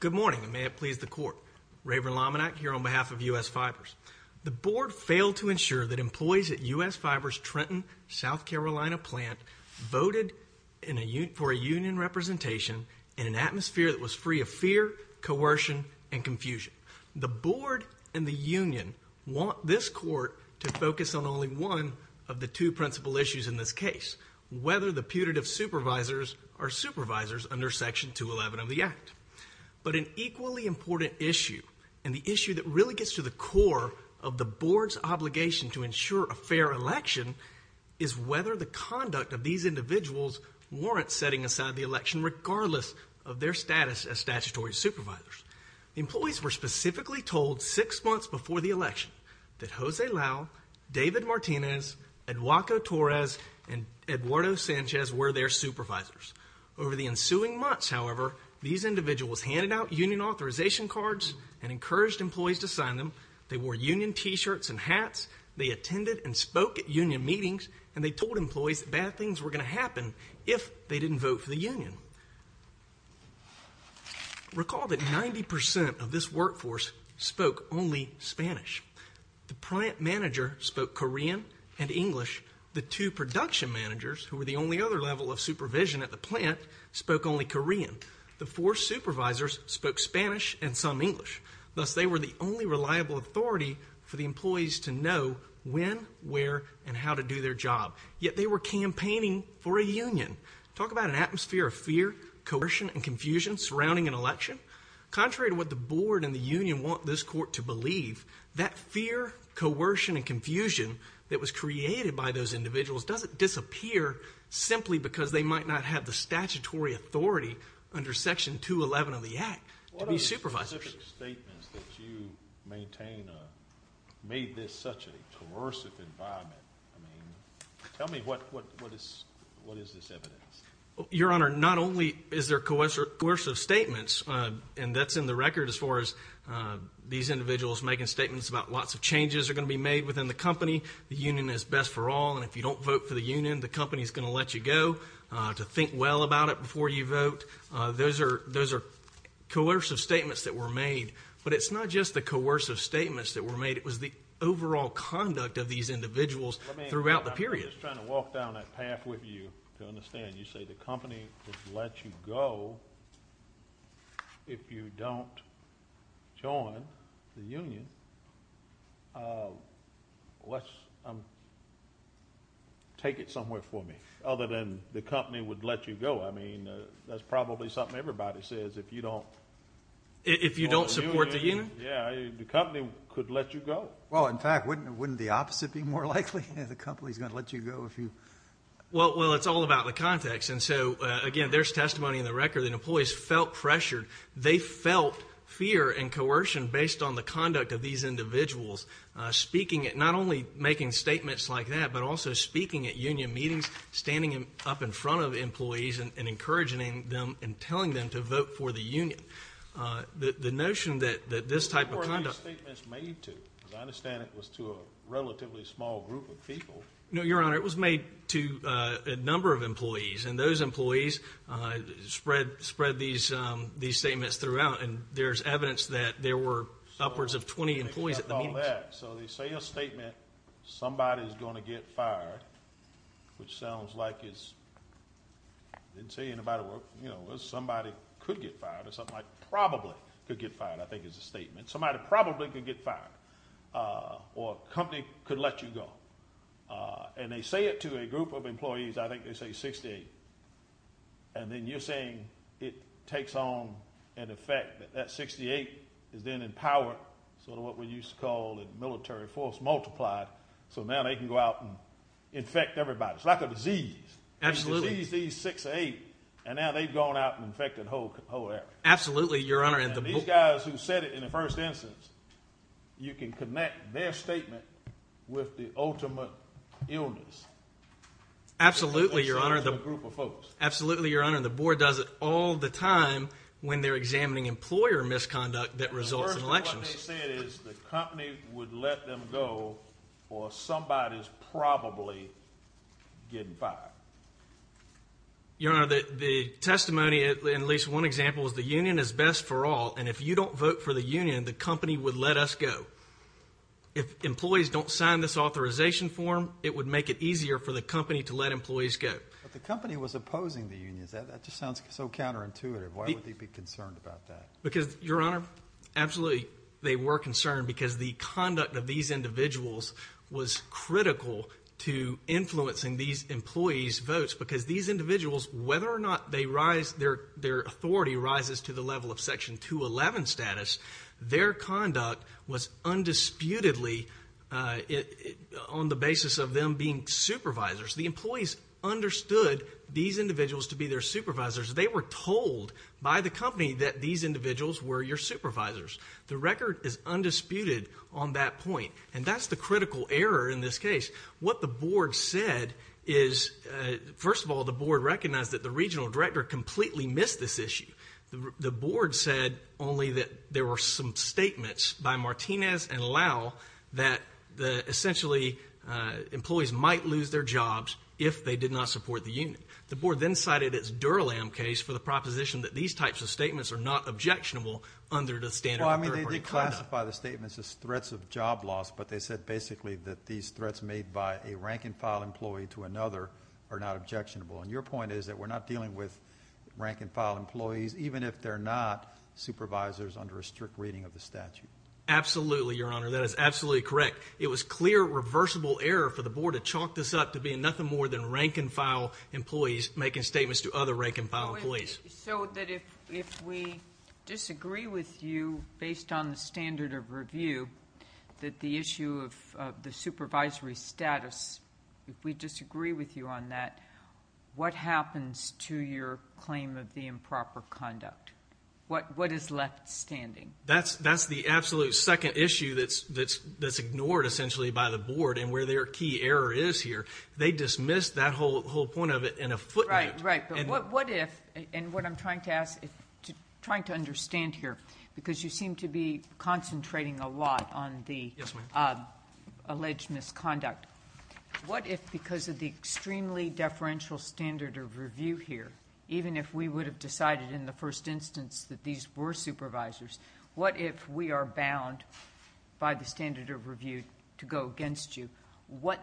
Good morning, and may it please the Court. Raven Lominack here on behalf of U.S. Fibers. The Board failed to ensure that employees at U.S. Fibers Trenton, South Carolina plant voted for a union representation in an atmosphere that was free of fear, coercion, and confusion. The Board and the union want this Court to focus on only one of the two principal issues in this case, whether the putative supervisors are supervisors under Section 211 of the Act. But an equally important issue, and the issue that really gets to the core of the Board's obligation to ensure a fair election, is whether the conduct of these individuals warrants setting aside the election regardless of their status as statutory supervisors. Employees were specifically told six months before the election that Jose Lau, David Martinez, Eduardo Torres, and Eduardo Sanchez were their supervisors. Over the ensuing months, however, these individuals handed out union authorization cards and encouraged employees to sign them, they wore union t-shirts and hats, they attended and spoke at union meetings, and they told employees that bad things were going to happen if they didn't vote for the union. Recall that 90% of this workforce spoke only Spanish. The plant manager spoke Korean and English. The two production managers, who were the only other level of supervision at the plant, spoke only Korean. The four supervisors spoke Spanish and some English. Thus, they were the only reliable authority for the employees to know when, where, and how to do their job, yet they were campaigning for a union. Talk about an atmosphere of fear, coercion, and confusion surrounding an election. Contrary to what the board and the union want this court to believe, that fear, coercion, and confusion that was created by those individuals doesn't disappear simply because they might not have the statutory authority under Section 211 of the Act to be supervisors. What are the specific statements that you maintain made this such a coercive environment? Tell me, what is this evidence? Your Honor, not only is there coercive statements, and that's in the record as far as these individuals making statements about lots of changes are going to be made within the company, the union is best for all, and if you don't vote for the union, the company is going to let you go to think well about it before you vote. Those are coercive statements that were made, but it's not just the coercive statements that were made, it was the overall conduct of these individuals throughout the period. I'm just trying to walk down that path with you to understand. You say the company would let you go if you don't join the union. Let's take it somewhere for me, other than the company would let you go. I mean, that's probably something everybody says, if you don't... If you don't support the union? Yeah, the company could let you go. Well, in fact, wouldn't the opposite be more likely? The company's going to let you go if you... Well, it's all about the context, and so, again, there's testimony in the record that employees felt pressured. They felt fear and coercion based on the conduct of these individuals speaking, not only making statements like that, but also speaking at union meetings, standing up in front of employees and encouraging them and telling them to vote for the union. The notion that this type of conduct... Who were these statements made to? Because I understand it was to a relatively small group of people. No, Your Honor, it was made to a number of employees, and those employees spread these statements throughout, and there's evidence that there were upwards of 20 employees at the meetings. So they say a statement, somebody's going to get fired, which sounds like it's... Somebody could get fired, or something like probably could get fired, I think is the statement. Somebody probably could get fired, or a company could let you go. And they say it to a group of employees, I think they say 68. And then you're saying it takes on an effect, that that 68 is then empowered, sort of what we used to call a military force multiplied, so now they can go out and infect everybody. It's like a disease. Absolutely. So somebody sees these 68, and now they've gone out and infected the whole area. Absolutely, Your Honor. And these guys who said it in the first instance, you can connect their statement with the ultimate illness. Absolutely, Your Honor, the board does it all the time when they're examining employer misconduct that results in elections. What they said is the company would let them go, or somebody's probably getting fired. Your Honor, the testimony in at least one example is the union is best for all, and if you don't vote for the union, the company would let us go. If employees don't sign this authorization form, it would make it easier for the company to let employees go. But the company was opposing the unions. That just sounds so counterintuitive. Why would they be concerned about that? Because, Your Honor, absolutely they were concerned because the conduct of these individuals was critical to influencing these employees' votes because these individuals, whether or not their authority rises to the level of Section 211 status, their conduct was undisputedly on the basis of them being supervisors. The employees understood these individuals to be their supervisors. They were told by the company that these individuals were your supervisors. The record is undisputed on that point. And that's the critical error in this case. What the board said is, first of all, the board recognized that the regional director completely missed this issue. The board said only that there were some statements by Martinez and Lau that essentially employees might lose their jobs if they did not support the union. The board then cited its Durlam case for the proposition that these types of statements are not objectionable under the standard of third-party conduct. No, I mean, they classify the statements as threats of job loss, but they said basically that these threats made by a rank-and-file employee to another are not objectionable. And your point is that we're not dealing with rank-and-file employees even if they're not supervisors under a strict reading of the statute. Absolutely, Your Honor. That is absolutely correct. It was clear, reversible error for the board to chalk this up to being nothing more than rank-and-file employees making statements to other rank-and-file employees. So that if we disagree with you based on the standard of review that the issue of the supervisory status, if we disagree with you on that, what happens to your claim of the improper conduct? What is left standing? That's the absolute second issue that's ignored essentially by the board and where their key error is here. They dismissed that whole point of it in a footnote. What if, and what I'm trying to ask, trying to understand here, because you seem to be concentrating a lot on the alleged misconduct, what if because of the extremely deferential standard of review here, even if we would have decided in the first instance that these were supervisors, what if we are bound by the standard of review to go against you? What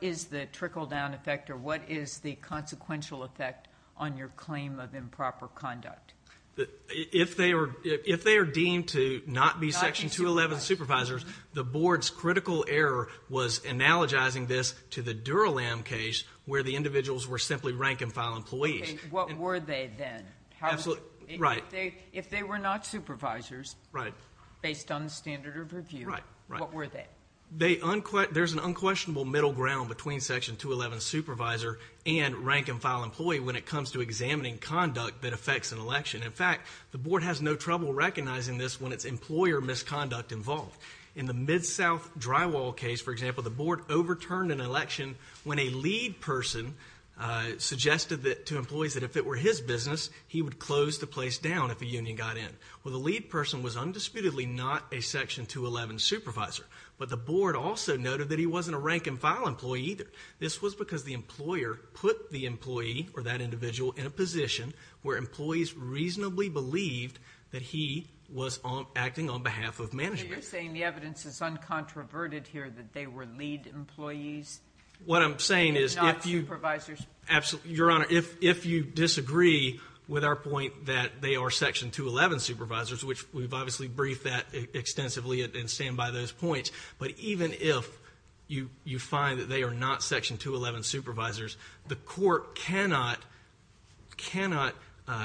is the trickle-down effect or what is the consequential effect on your claim of improper conduct? If they are deemed to not be Section 211 supervisors, the board's critical error was analogizing this to the Dura-Lam case where the individuals were simply rank-and-file employees. What were they then? If they were not supervisors based on the standard of review, what were they? There's an unquestionable middle ground between Section 211 supervisor and rank-and-file employee when it comes to examining conduct that affects an election. In fact, the board has no trouble recognizing this when it's employer misconduct involved. In the Mid-South Drywall case, for example, the board overturned an election when a lead person suggested to employees that if it were his business, he would close the place down if a union got in. Well, the lead person was undisputedly not a Section 211 supervisor, but the board also noted that he wasn't a rank-and-file employee either. This was because the employer put the employee or that individual in a position where employees reasonably believed that he was acting on behalf of management. You're saying the evidence is uncontroverted here that they were lead employees? What I'm saying is if you disagree with our point that they are Section 211 supervisors, which we've obviously briefed that extensively and stand by those points, but even if you find that they are not Section 211 supervisors, the court cannot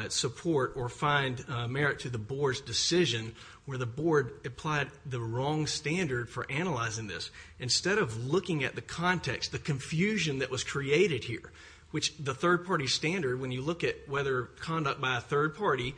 support or find merit to the board's decision where the board applied the wrong standard for analyzing this. Instead of looking at the context, the confusion that was created here, which the third party standard, when you look at whether conduct by a third party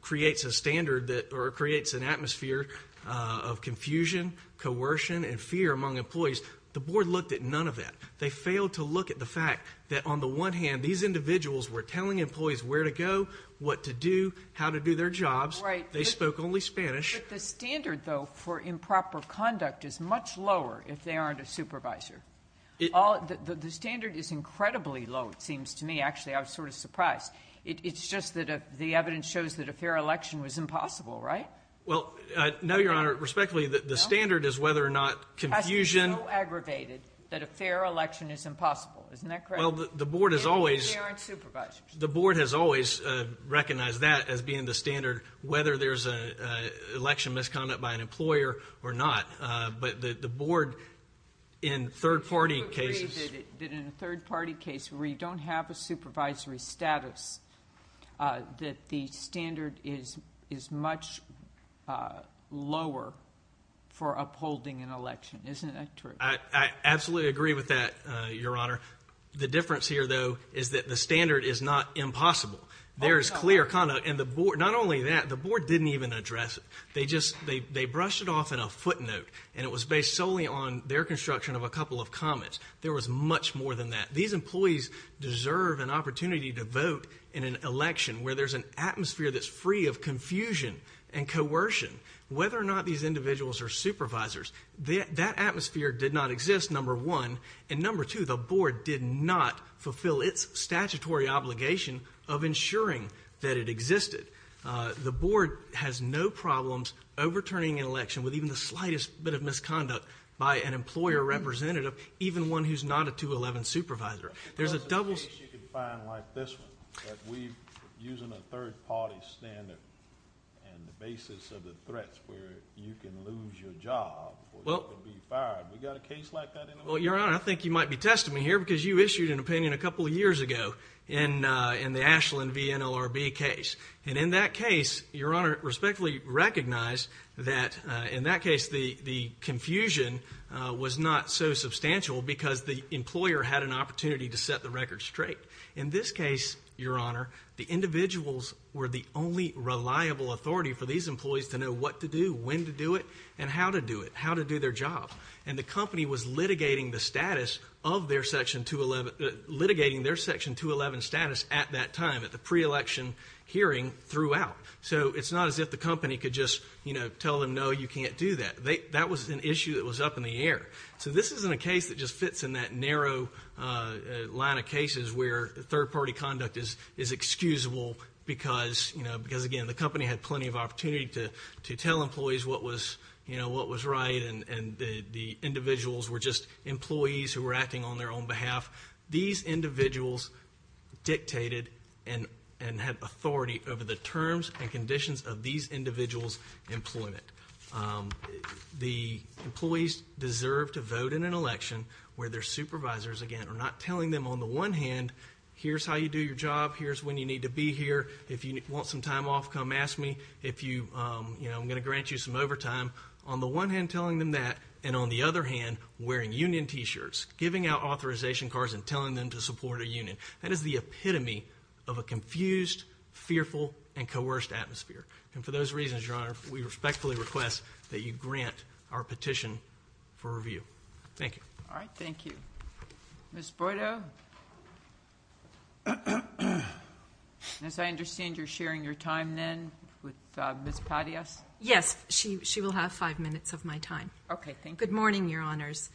creates a standard or creates an atmosphere of confusion, coercion, and fear among employees, the board looked at none of that. They failed to look at the fact that on the one hand, these individuals were telling employees where to go, what to do, how to do their jobs. They spoke only Spanish. But the standard, though, for improper conduct is much lower if they aren't a supervisor. The standard is incredibly low, it seems to me. Actually, I was sort of surprised. It's just that the evidence shows that a fair election was impossible, right? Well, no, Your Honor. Respectfully, the standard is whether or not confusion... Has to be so aggravated that a fair election is impossible. Isn't that correct? Well, the board has always... If they aren't supervisors. The board has always recognized that as being the standard, whether there's election misconduct by an employer or not. But the board, in third-party cases... Do you agree that in a third-party case where you don't have a supervisory status, that the standard is much lower for upholding an election? Isn't that true? I absolutely agree with that, Your Honor. The difference here, though, is that the standard is not impossible. There is clear conduct. And the board... Not only that, the board didn't even address it. They brushed it off in a footnote. And it was based solely on their construction of a couple of comments. There was much more than that. These employees deserve an opportunity to vote in an election where there's an atmosphere that's free of confusion and coercion. Whether or not these individuals are supervisors, that atmosphere did not exist, number one. And number two, the board did not fulfill its statutory obligation of ensuring that it existed. The board has no problems overturning an election with even the slightest bit of misconduct by an employer representative, even one who's not a 211 supervisor. There's a double... What about a case you can find like this one, that we're using a third-party standard and the basis of the threats where you can lose your job or you can be fired? We got a case like that anywhere? Well, Your Honor, I think you might be testing me here because you issued an opinion a couple of years ago in the Ashland v. NLRB case. And in that case, Your Honor, I respectfully recognize that in that case the confusion was not so substantial because the employer had an opportunity to set the record straight. In this case, Your Honor, the individuals were the only reliable authority for these employees to know what to do, when to do it, and how to do it, how to do their job. And the company was litigating the status of their Section 211... litigating their Section 211 status at that time, at the pre-election hearing, throughout. So it's not as if the company could just tell them, no, you can't do that. That was an issue that was up in the air. So this isn't a case that just fits in that narrow line of cases where third-party conduct is excusable because, again, the company had plenty of opportunity to tell employees what was right and the individuals were just employees who were acting on their own behalf. These individuals dictated and had authority over the terms and conditions of these individuals' employment. The employees deserve to vote in an election where their supervisors, again, are not telling them, on the one hand, here's how you do your job, here's when you need to be here, if you want some time off, come ask me, I'm going to grant you some overtime. On the one hand, telling them that, and on the other hand, wearing union T-shirts, giving out authorization cards and telling them to support a union. That is the epitome of a confused, fearful and coerced atmosphere. And for those reasons, Your Honor, we respectfully request that you grant our petition for review. Thank you. All right, thank you. Ms. Boydo. As I understand, you're sharing your time then with Ms. Patios? Yes, she will have five minutes of my time. Okay, thank you. Good morning, Your Honors.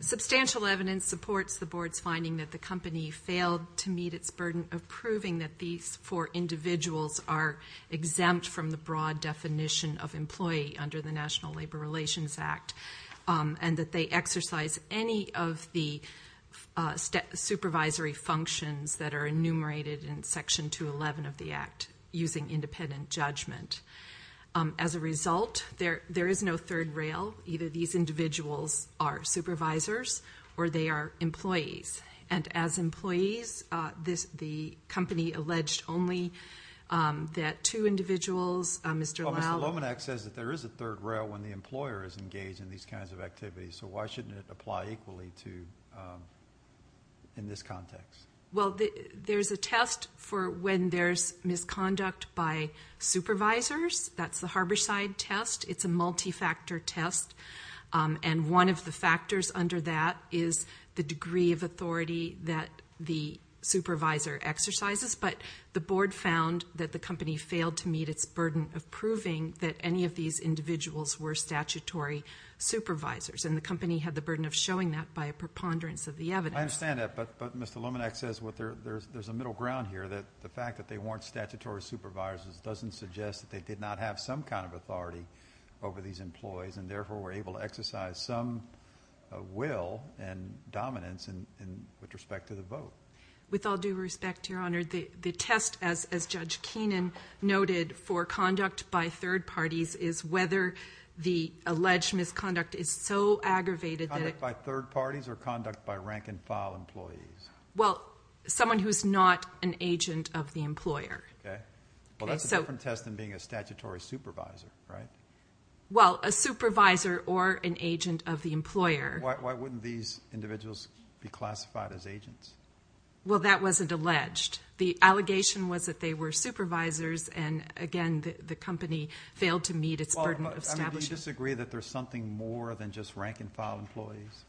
Substantial evidence supports the Board's finding that the company failed to meet its burden of proving that these four individuals are exempt from the broad definition of employee under the National Labor Relations Act and that they exercise any of the supervisory functions that are enumerated in Section 211 of the Act using independent judgment. As a result, there is no third rail. Either these individuals are supervisors or they are employees. And as employees, the company alleged only that two individuals... Mr. Lomanak says that there is a third rail when the employer is engaged in these kinds of activities. So why shouldn't it apply equally to... in this context? Well, there's a test for when there's misconduct by supervisors. That's the Harborside test. It's a multi-factor test. And one of the factors under that is the degree of authority that the supervisor exercises. But the Board found that the company failed to meet its burden of proving that any of these individuals were statutory supervisors. And the company had the burden of showing that by a preponderance of the evidence. I understand that, but Mr. Lomanak says there's a middle ground here that the fact that they weren't statutory supervisors doesn't suggest that they did not have some kind of authority over these employees and therefore were able to exercise some will and dominance with respect to the vote. With all due respect, Your Honor, the test, as Judge Keenan noted, for conduct by third parties is whether the alleged misconduct is so aggravated that it... Conduct by third parties or conduct by rank-and-file employees? Well, someone who's not an agent of the employer. Well, that's a different test than being a statutory supervisor, right? Well, a supervisor or an agent of the employer. Why wouldn't these individuals be classified as agents? Well, that wasn't alleged. The allegation was that they were supervisors and, again, the company failed to meet its burden of establishing... Do you disagree that there's something more than just rank-and-file employees?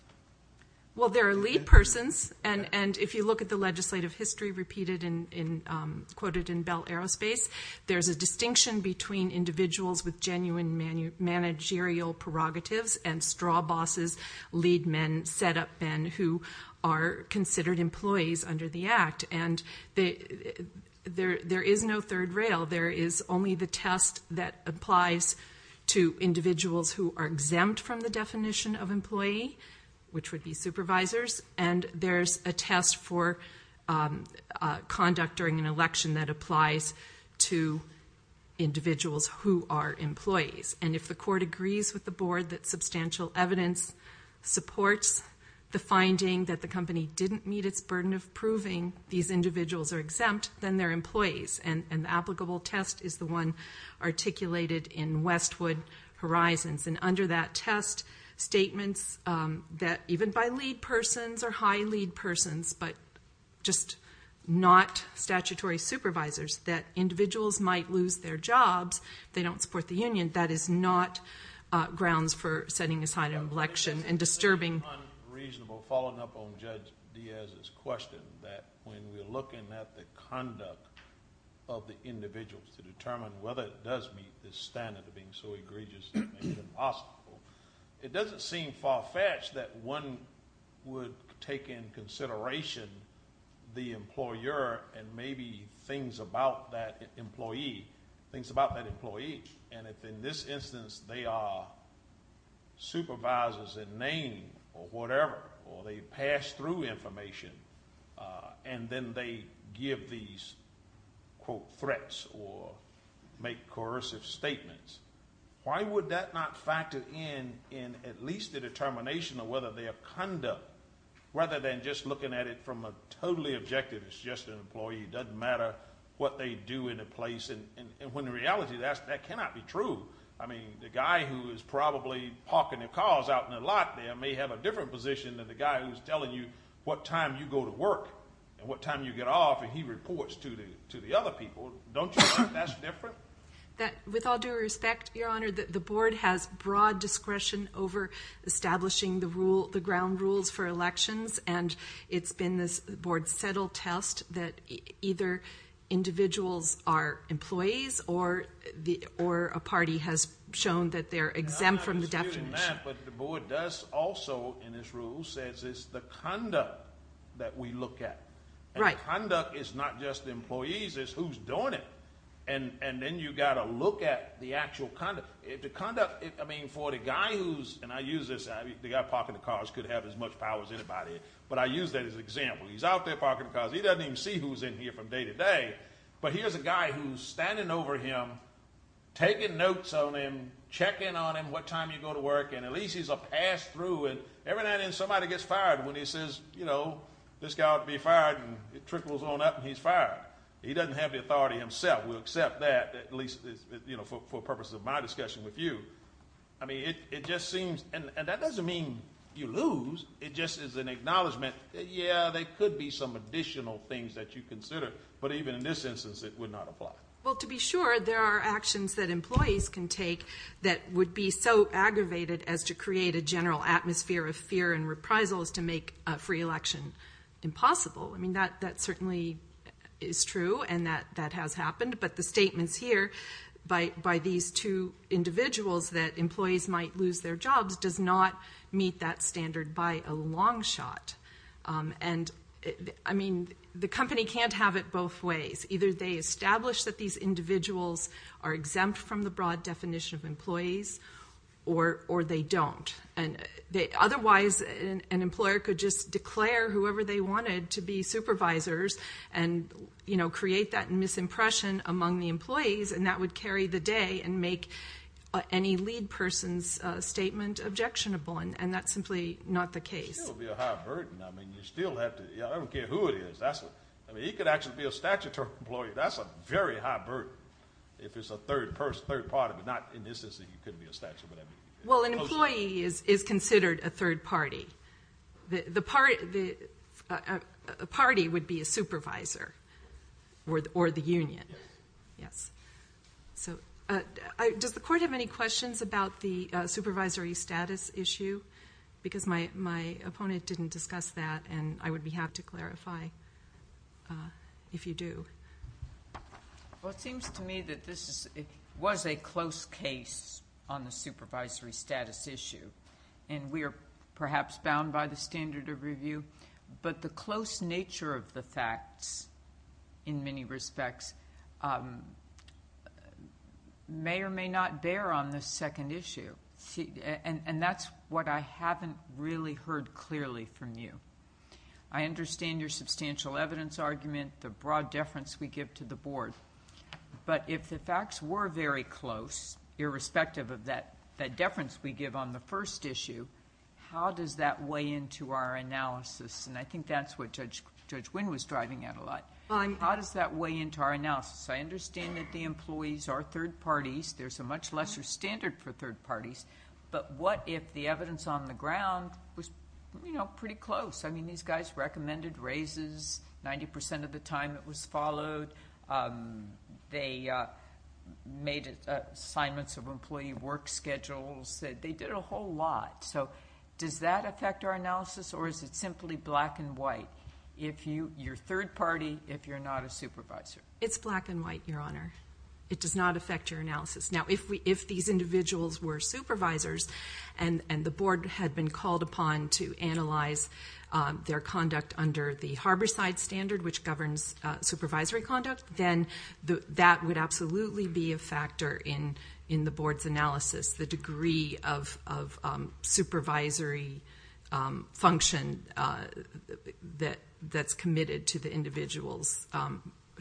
Well, there are lead persons and if you look at the legislative history quoted in Bell Aerospace, there's a distinction between individuals with genuine managerial prerogatives and straw bosses, lead men, set-up men who are considered employees under the Act and there is no third rail. There is only the test that applies to individuals who are exempt from the definition of employee which would be supervisors and there's a test for conduct during an election that applies to individuals who are employees and if the court agrees with the board that substantial evidence supports the finding that the company didn't meet its burden of proving these individuals are exempt then they're employees and the applicable test is the one articulated in Westwood Horizons and under that test statements that even by lead persons or high lead persons but just not statutory supervisors that individuals might lose their jobs if they don't support the union that is not grounds for setting aside an election and disturbing Unreasonable, following up on Judge Diaz's question that when we're looking at the conduct of the individuals to determine whether it does meet the standard of being so egregious that it makes it possible it doesn't seem far-fetched that one would take in consideration the employer and maybe things about that employee things about that employee and if in this instance they are supervisors in name or whatever or they pass through information and then they give these quote threats or make coercive statements why would that not factor in in at least the determination of whether their conduct rather than just looking at it from a totally objective it's just an employee it doesn't matter what they do in a place and when in reality that cannot be true I mean the guy who is probably parking their cars out in the lot there may have a different position than the guy who's telling you what time you go to work and what time you get off and he reports to the other people don't you think that's different With all due respect Your honor the board has broad discretion over establishing the ground rules for elections and it's been this board settled test that either individuals are employees or a party has shown that they're exempt from the definition But the board does also in this rule says it's the conduct that we look at and conduct is not just the employees it's who's doing it and then you've got to look at the actual conduct for the guy who's and I use this the guy parking the cars could have as much power as anybody but I use that as an example he's out there parking the cars he doesn't even see who's in here from day to day but here's a guy who's standing over him taking notes on him checking on him what time you go to work and at least he's a pass through and every now and then somebody gets fired when he says you know this guy ought to be fired and it trickles on up and he's fired he doesn't have the authority himself we'll accept that at least for purposes of my discussion with you I mean it just seems and that doesn't mean you lose it just is an acknowledgement that yeah there could be some additional things that you consider but even in this instance it would not apply. Well to be sure there are actions that employees can take that would be so aggravated as to create a general atmosphere of fear and reprisal as to make a free election impossible I mean that certainly is true and that has happened but the statements here by these two individuals that employees might lose their jobs does not meet that standard by a long shot and I mean the company can't have it both ways either they establish that these individuals are exempt from the broad definition of employees or they don't otherwise an employer could just be supervisors and create that misimpression among the employees and that would carry the day and make any lead person's statement objectionable and that's simply not the case It would still be a high burden I don't care who it is he could actually be a statutory employee that's a very high burden if it's a third party not in this instance Well an employee is considered a third party a party would be a supervisor or the union Does the court have any questions about the supervisory status issue because my opponent didn't discuss that and I would have to clarify if you do Well it seems to me that this was a close case on the supervisory status issue and we are perhaps bound by the standard of review but the close nature of the facts in many respects may or may not bear on the second issue and that's what I haven't really heard clearly from you I understand your substantial evidence argument the broad deference we give to the board but if the facts were very close irrespective of that deference we give on the first issue how does that weigh into our analysis and I think that's what Judge Wynn was driving at a lot How does that weigh into our analysis I understand that the employees are third parties, there's a much lesser standard for third parties but what if the evidence on the ground was pretty close I mean these guys recommended raises 90% of the time it was followed they made assignments of employee work schedules, they did a whole lot so does that affect our analysis or is it simply black and white if you're third party if you're not a supervisor It's black and white your honor It does not affect your analysis Now if these individuals were supervisors and the board had been called upon to analyze their conduct under the harborside standard which governs supervisory conduct then that would absolutely be a factor in the board's analysis, the degree of supervisory function that's committed to the individuals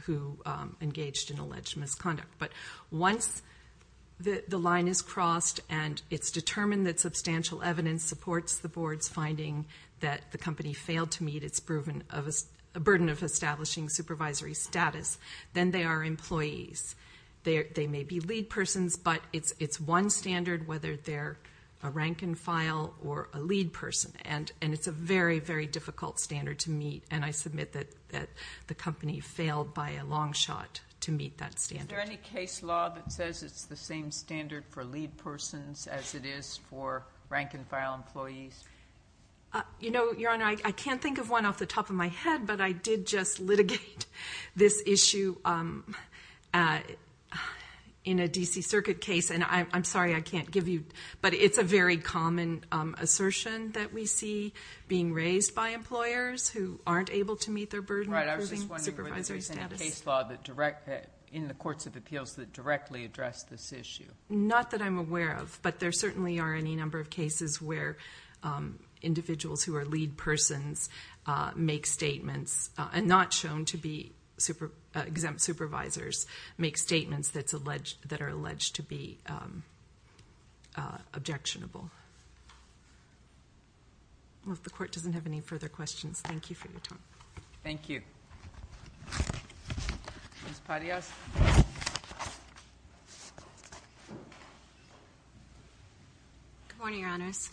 who engaged in alleged misconduct but once the line is crossed and it's determined that substantial evidence supports the board's finding that the company failed to meet its burden of establishing supervisory status then they are employees they may be lead persons but it's one standard whether they're a rank and file or a lead person and it's a very difficult standard to meet and I submit that the company failed by a long shot to meet that standard Is there any case law that says it's the same standard for lead persons as it is for rank and file employees Your honor I can't think of one off the top of my head but I did just litigate this issue in a DC circuit case and I'm sorry I can't give you but it's a very common assertion that we see being raised by employers who aren't able to meet their burden of proving supervisory status Is there any case law in the courts of appeals that directly address this issue Not that I'm aware of but there certainly are any number of cases where individuals who are lead persons make statements and not shown to be exempt supervisors make statements that are alleged to be objectionable Well if the court doesn't have any further questions Thank you Ms. Parias Good morning your honors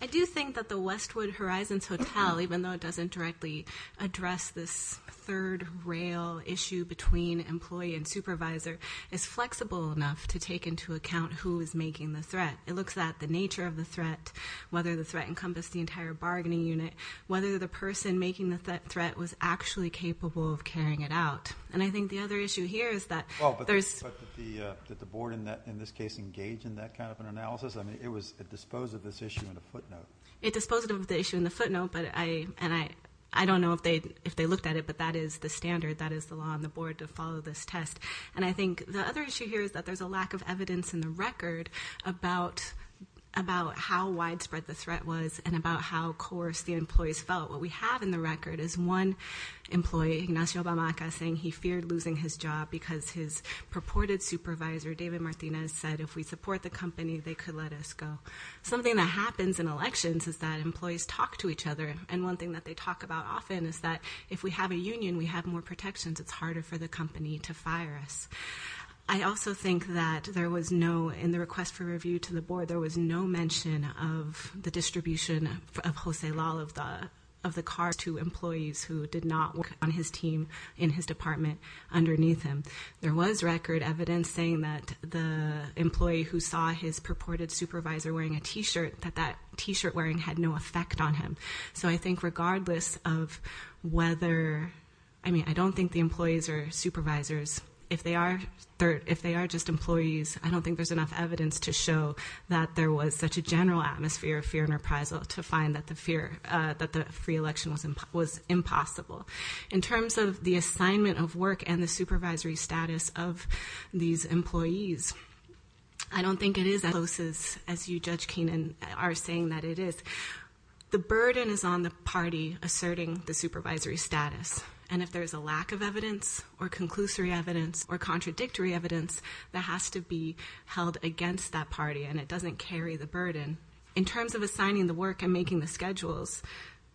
I do think that the Westwood Horizons Hotel even though it doesn't directly address this third rail issue between employee and supervisor is flexible enough to take into account who is making the threat. It looks at the nature of the threat, whether the threat encompassed the entire bargaining unit whether the person making the threat was actually capable of carrying it out and I think the other issue here is that that the board in this case engaged in that kind of issue on a footnote It disposed of the issue on a footnote I don't know if they looked at it but that is the standard, that is the law on the board to follow this test and I think the other issue here is that there is a lack of evidence in the record about how widespread the threat was and about how coerced the employees felt. What we have in the record is one employee, Ignacio Bamaca saying he feared losing his job because his purported supervisor David Martinez said if we support the company they could let us go. Something that happens in elections is that employees talk to each other and one thing that they talk about often is that if we have a union we have more protections, it's harder for the company to fire us I also think that there was no in the request for review to the board, there was no mention of the distribution of Jose Lalo of the car to employees who did not work on his team in his department underneath him There was record evidence saying that the employee who saw his purported supervisor wearing a t-shirt that that t-shirt wearing had no effect on him. So I think regardless of whether I mean, I don't think the employees or supervisors if they are just employees, I don't think there's enough evidence to show that there was such a general atmosphere of fear and reprisal to find that the free election was impossible In terms of the assignment of work and the supervisory status of these employees I don't think it is as close as you Judge Keenan are saying that it is The burden is on the party asserting the supervisory status and if there's a lack of evidence or conclusory evidence or contradictory evidence that has to be held against that party and it doesn't carry the burden. In terms of assigning the work and making the schedules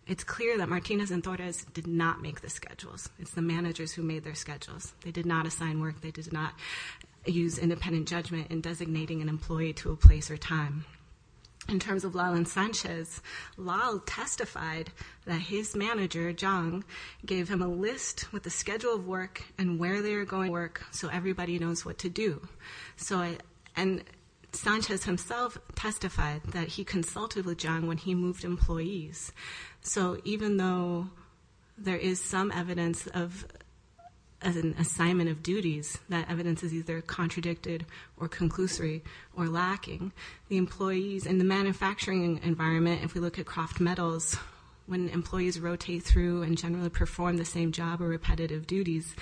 it's clear that Martinez and Torres did not make the schedules. It's the managers who made their schedules. They did not assign work. They did not use independent judgment in designating an employee to a place or time. In terms of Lal and Sanchez Lal testified that his manager, Zhang, gave him a list with the schedule of work and where they are going to work so everybody knows what to do. Sanchez himself testified that he consulted with Zhang when he moved employees so even though there is some evidence of an assignment of duties, that evidence is either contradicted or conclusory or lacking. The employees in the manufacturing environment if we look at Kraft Metals when employees rotate through and generally perform the same job or repetitive duties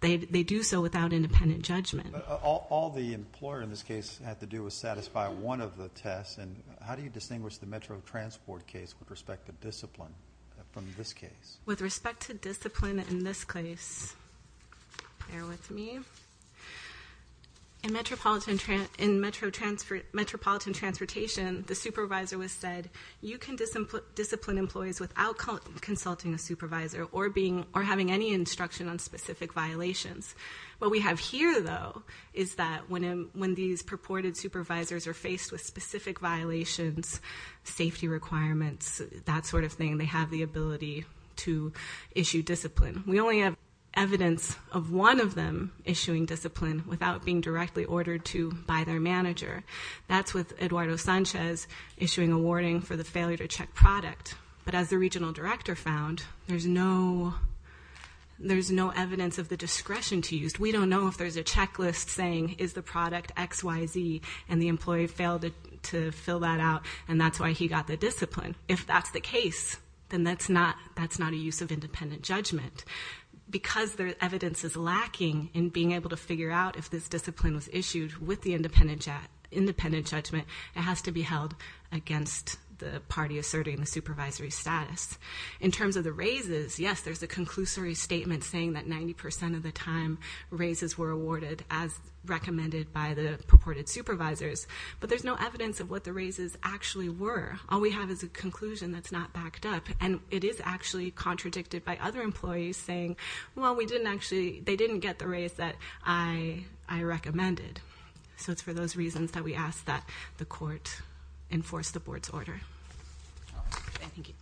they do so without independent judgment. All the employer in this case had to do was satisfy one of the tests and how do you distinguish the Metro transport case with respect to discipline from this case? With respect to discipline in this case bear with me in Metropolitan Transportation the supervisor was said you can discipline employees without consulting a supervisor or having any instruction on specific violations. What we have here though is that when these purported supervisors are faced with specific violations safety requirements that sort of thing they have the ability to issue discipline. We only have evidence of one of them issuing discipline without being directly ordered to by their manager. That's with Eduardo Sanchez issuing a warning for the failure to check product. But as the regional director found there's no evidence of the discretion to use. We don't know if there's a checklist saying is the product XYZ and the employee failed to fill that out and that's why he got the discipline. If that's the case then that's not a use of independent judgment. Because there's evidence is lacking in being able to figure out if this discipline was issued with the independent judgment it has to be held against the party asserting the supervisory status. In terms of the raises, yes there's a conclusory statement saying that 90% of the time raises were awarded as the purported supervisors. But there's no evidence of what the raises actually were. All we have is a conclusion that's not backed up and it is actually contradicted by other employees saying well we didn't actually, they didn't get the raise that I recommended. So it's for those reasons that we ask that the court enforce the board's order. Thank you.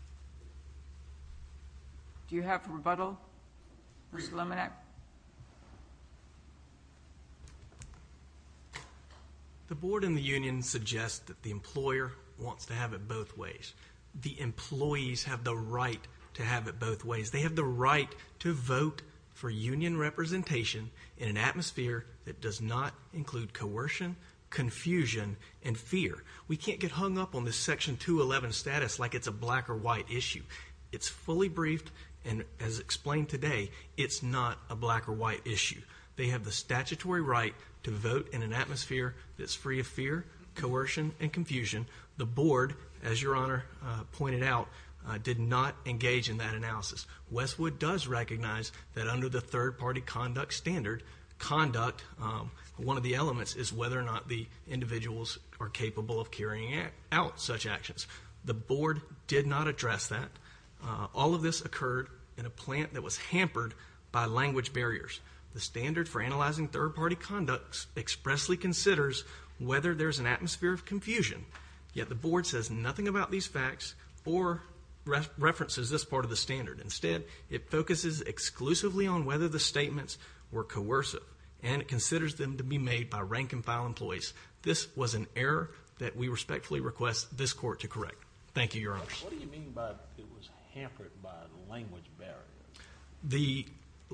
Do you have rebuttal? Rebuttal? The board and the union suggest that the employer wants to have it both ways. The employees have the right to have it both ways. They have the right to vote for union representation in an atmosphere that does not include coercion, confusion and fear. We can't get hung up on this section 211 status like it's a black or white issue. It's fully briefed and as explained today, it's not a black or white issue. They have the statutory right to vote in an atmosphere that's free of fear, coercion and confusion. The board as your honor pointed out did not engage in that analysis. Westwood does recognize that under the third party conduct standard, conduct one of the elements is whether or not the individuals are capable of carrying out such actions. The board does not. All of this occurred in a plant that was hampered by language barriers. The standard for analyzing third party conducts expressly considers whether there's an atmosphere of confusion. Yet the board says nothing about these facts or references this part of the standard. Instead, it focuses exclusively on whether the statements were coercive and it considers them to be made by rank and file employees. This was an error that we respectfully request this court to consider.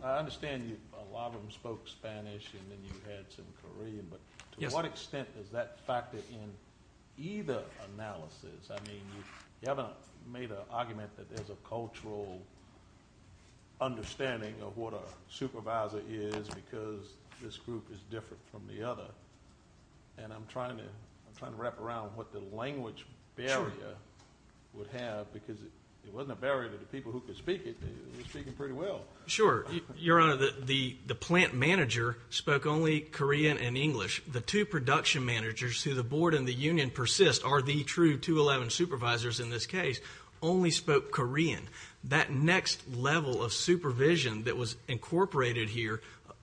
I understand a lot of them spoke Spanish and then you had some Korean but to what extent does that factor in either analysis? I mean, you haven't made an argument that there's a cultural understanding of what a supervisor is because this group is different from the other. I'm trying to wrap around what the language barrier would have because it wasn't a barrier to the people who could speak it. They were speaking pretty well. Your Honor, the plant manager spoke only Korean and English. The two production managers who the board and the union persist are the true 211 supervisors in this case only spoke Korean. That next level of supervision that was incorporated here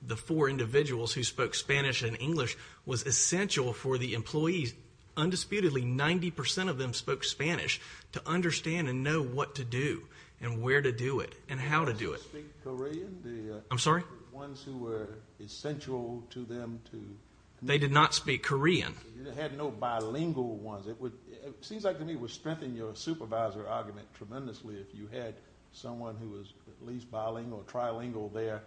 the four individuals who spoke Spanish and English was essential for the employees. Undisputedly 90% of them spoke Spanish to understand and know what to do and where to do it and how to do it. I'm sorry? They did not speak Korean. They did not speak Korean. They had no bilingual ones. It seems like to me it would strengthen your supervisor argument tremendously if you had someone who was at least bilingual or trilingual there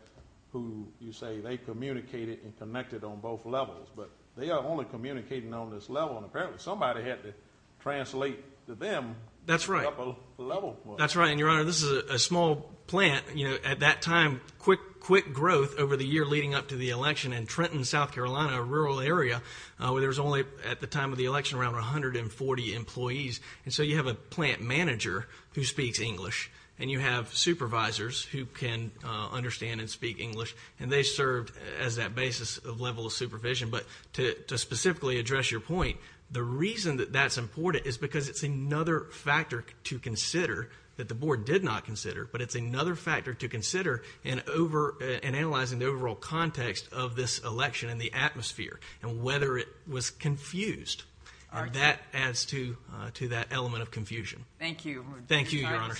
who you say they communicated and connected on both levels but they are only communicating on this level and apparently somebody had to translate to them That's right. That's right and your Honor this is a small plant at that time quick growth over the year leading up to the election in Trenton, South Carolina a rural area where there was only at the time of the election around 140 employees and so you have a plant manager who speaks English and you have supervisors who can understand and speak English and they served as that basis of level of supervision but to specifically address your point the reason that that's important is because it's another factor to consider that the board did not consider but it's another factor to consider in analyzing the overall context of this election and the atmosphere and whether it was confused and that adds to that element of confusion. Thank you. Thank you, Your Honor.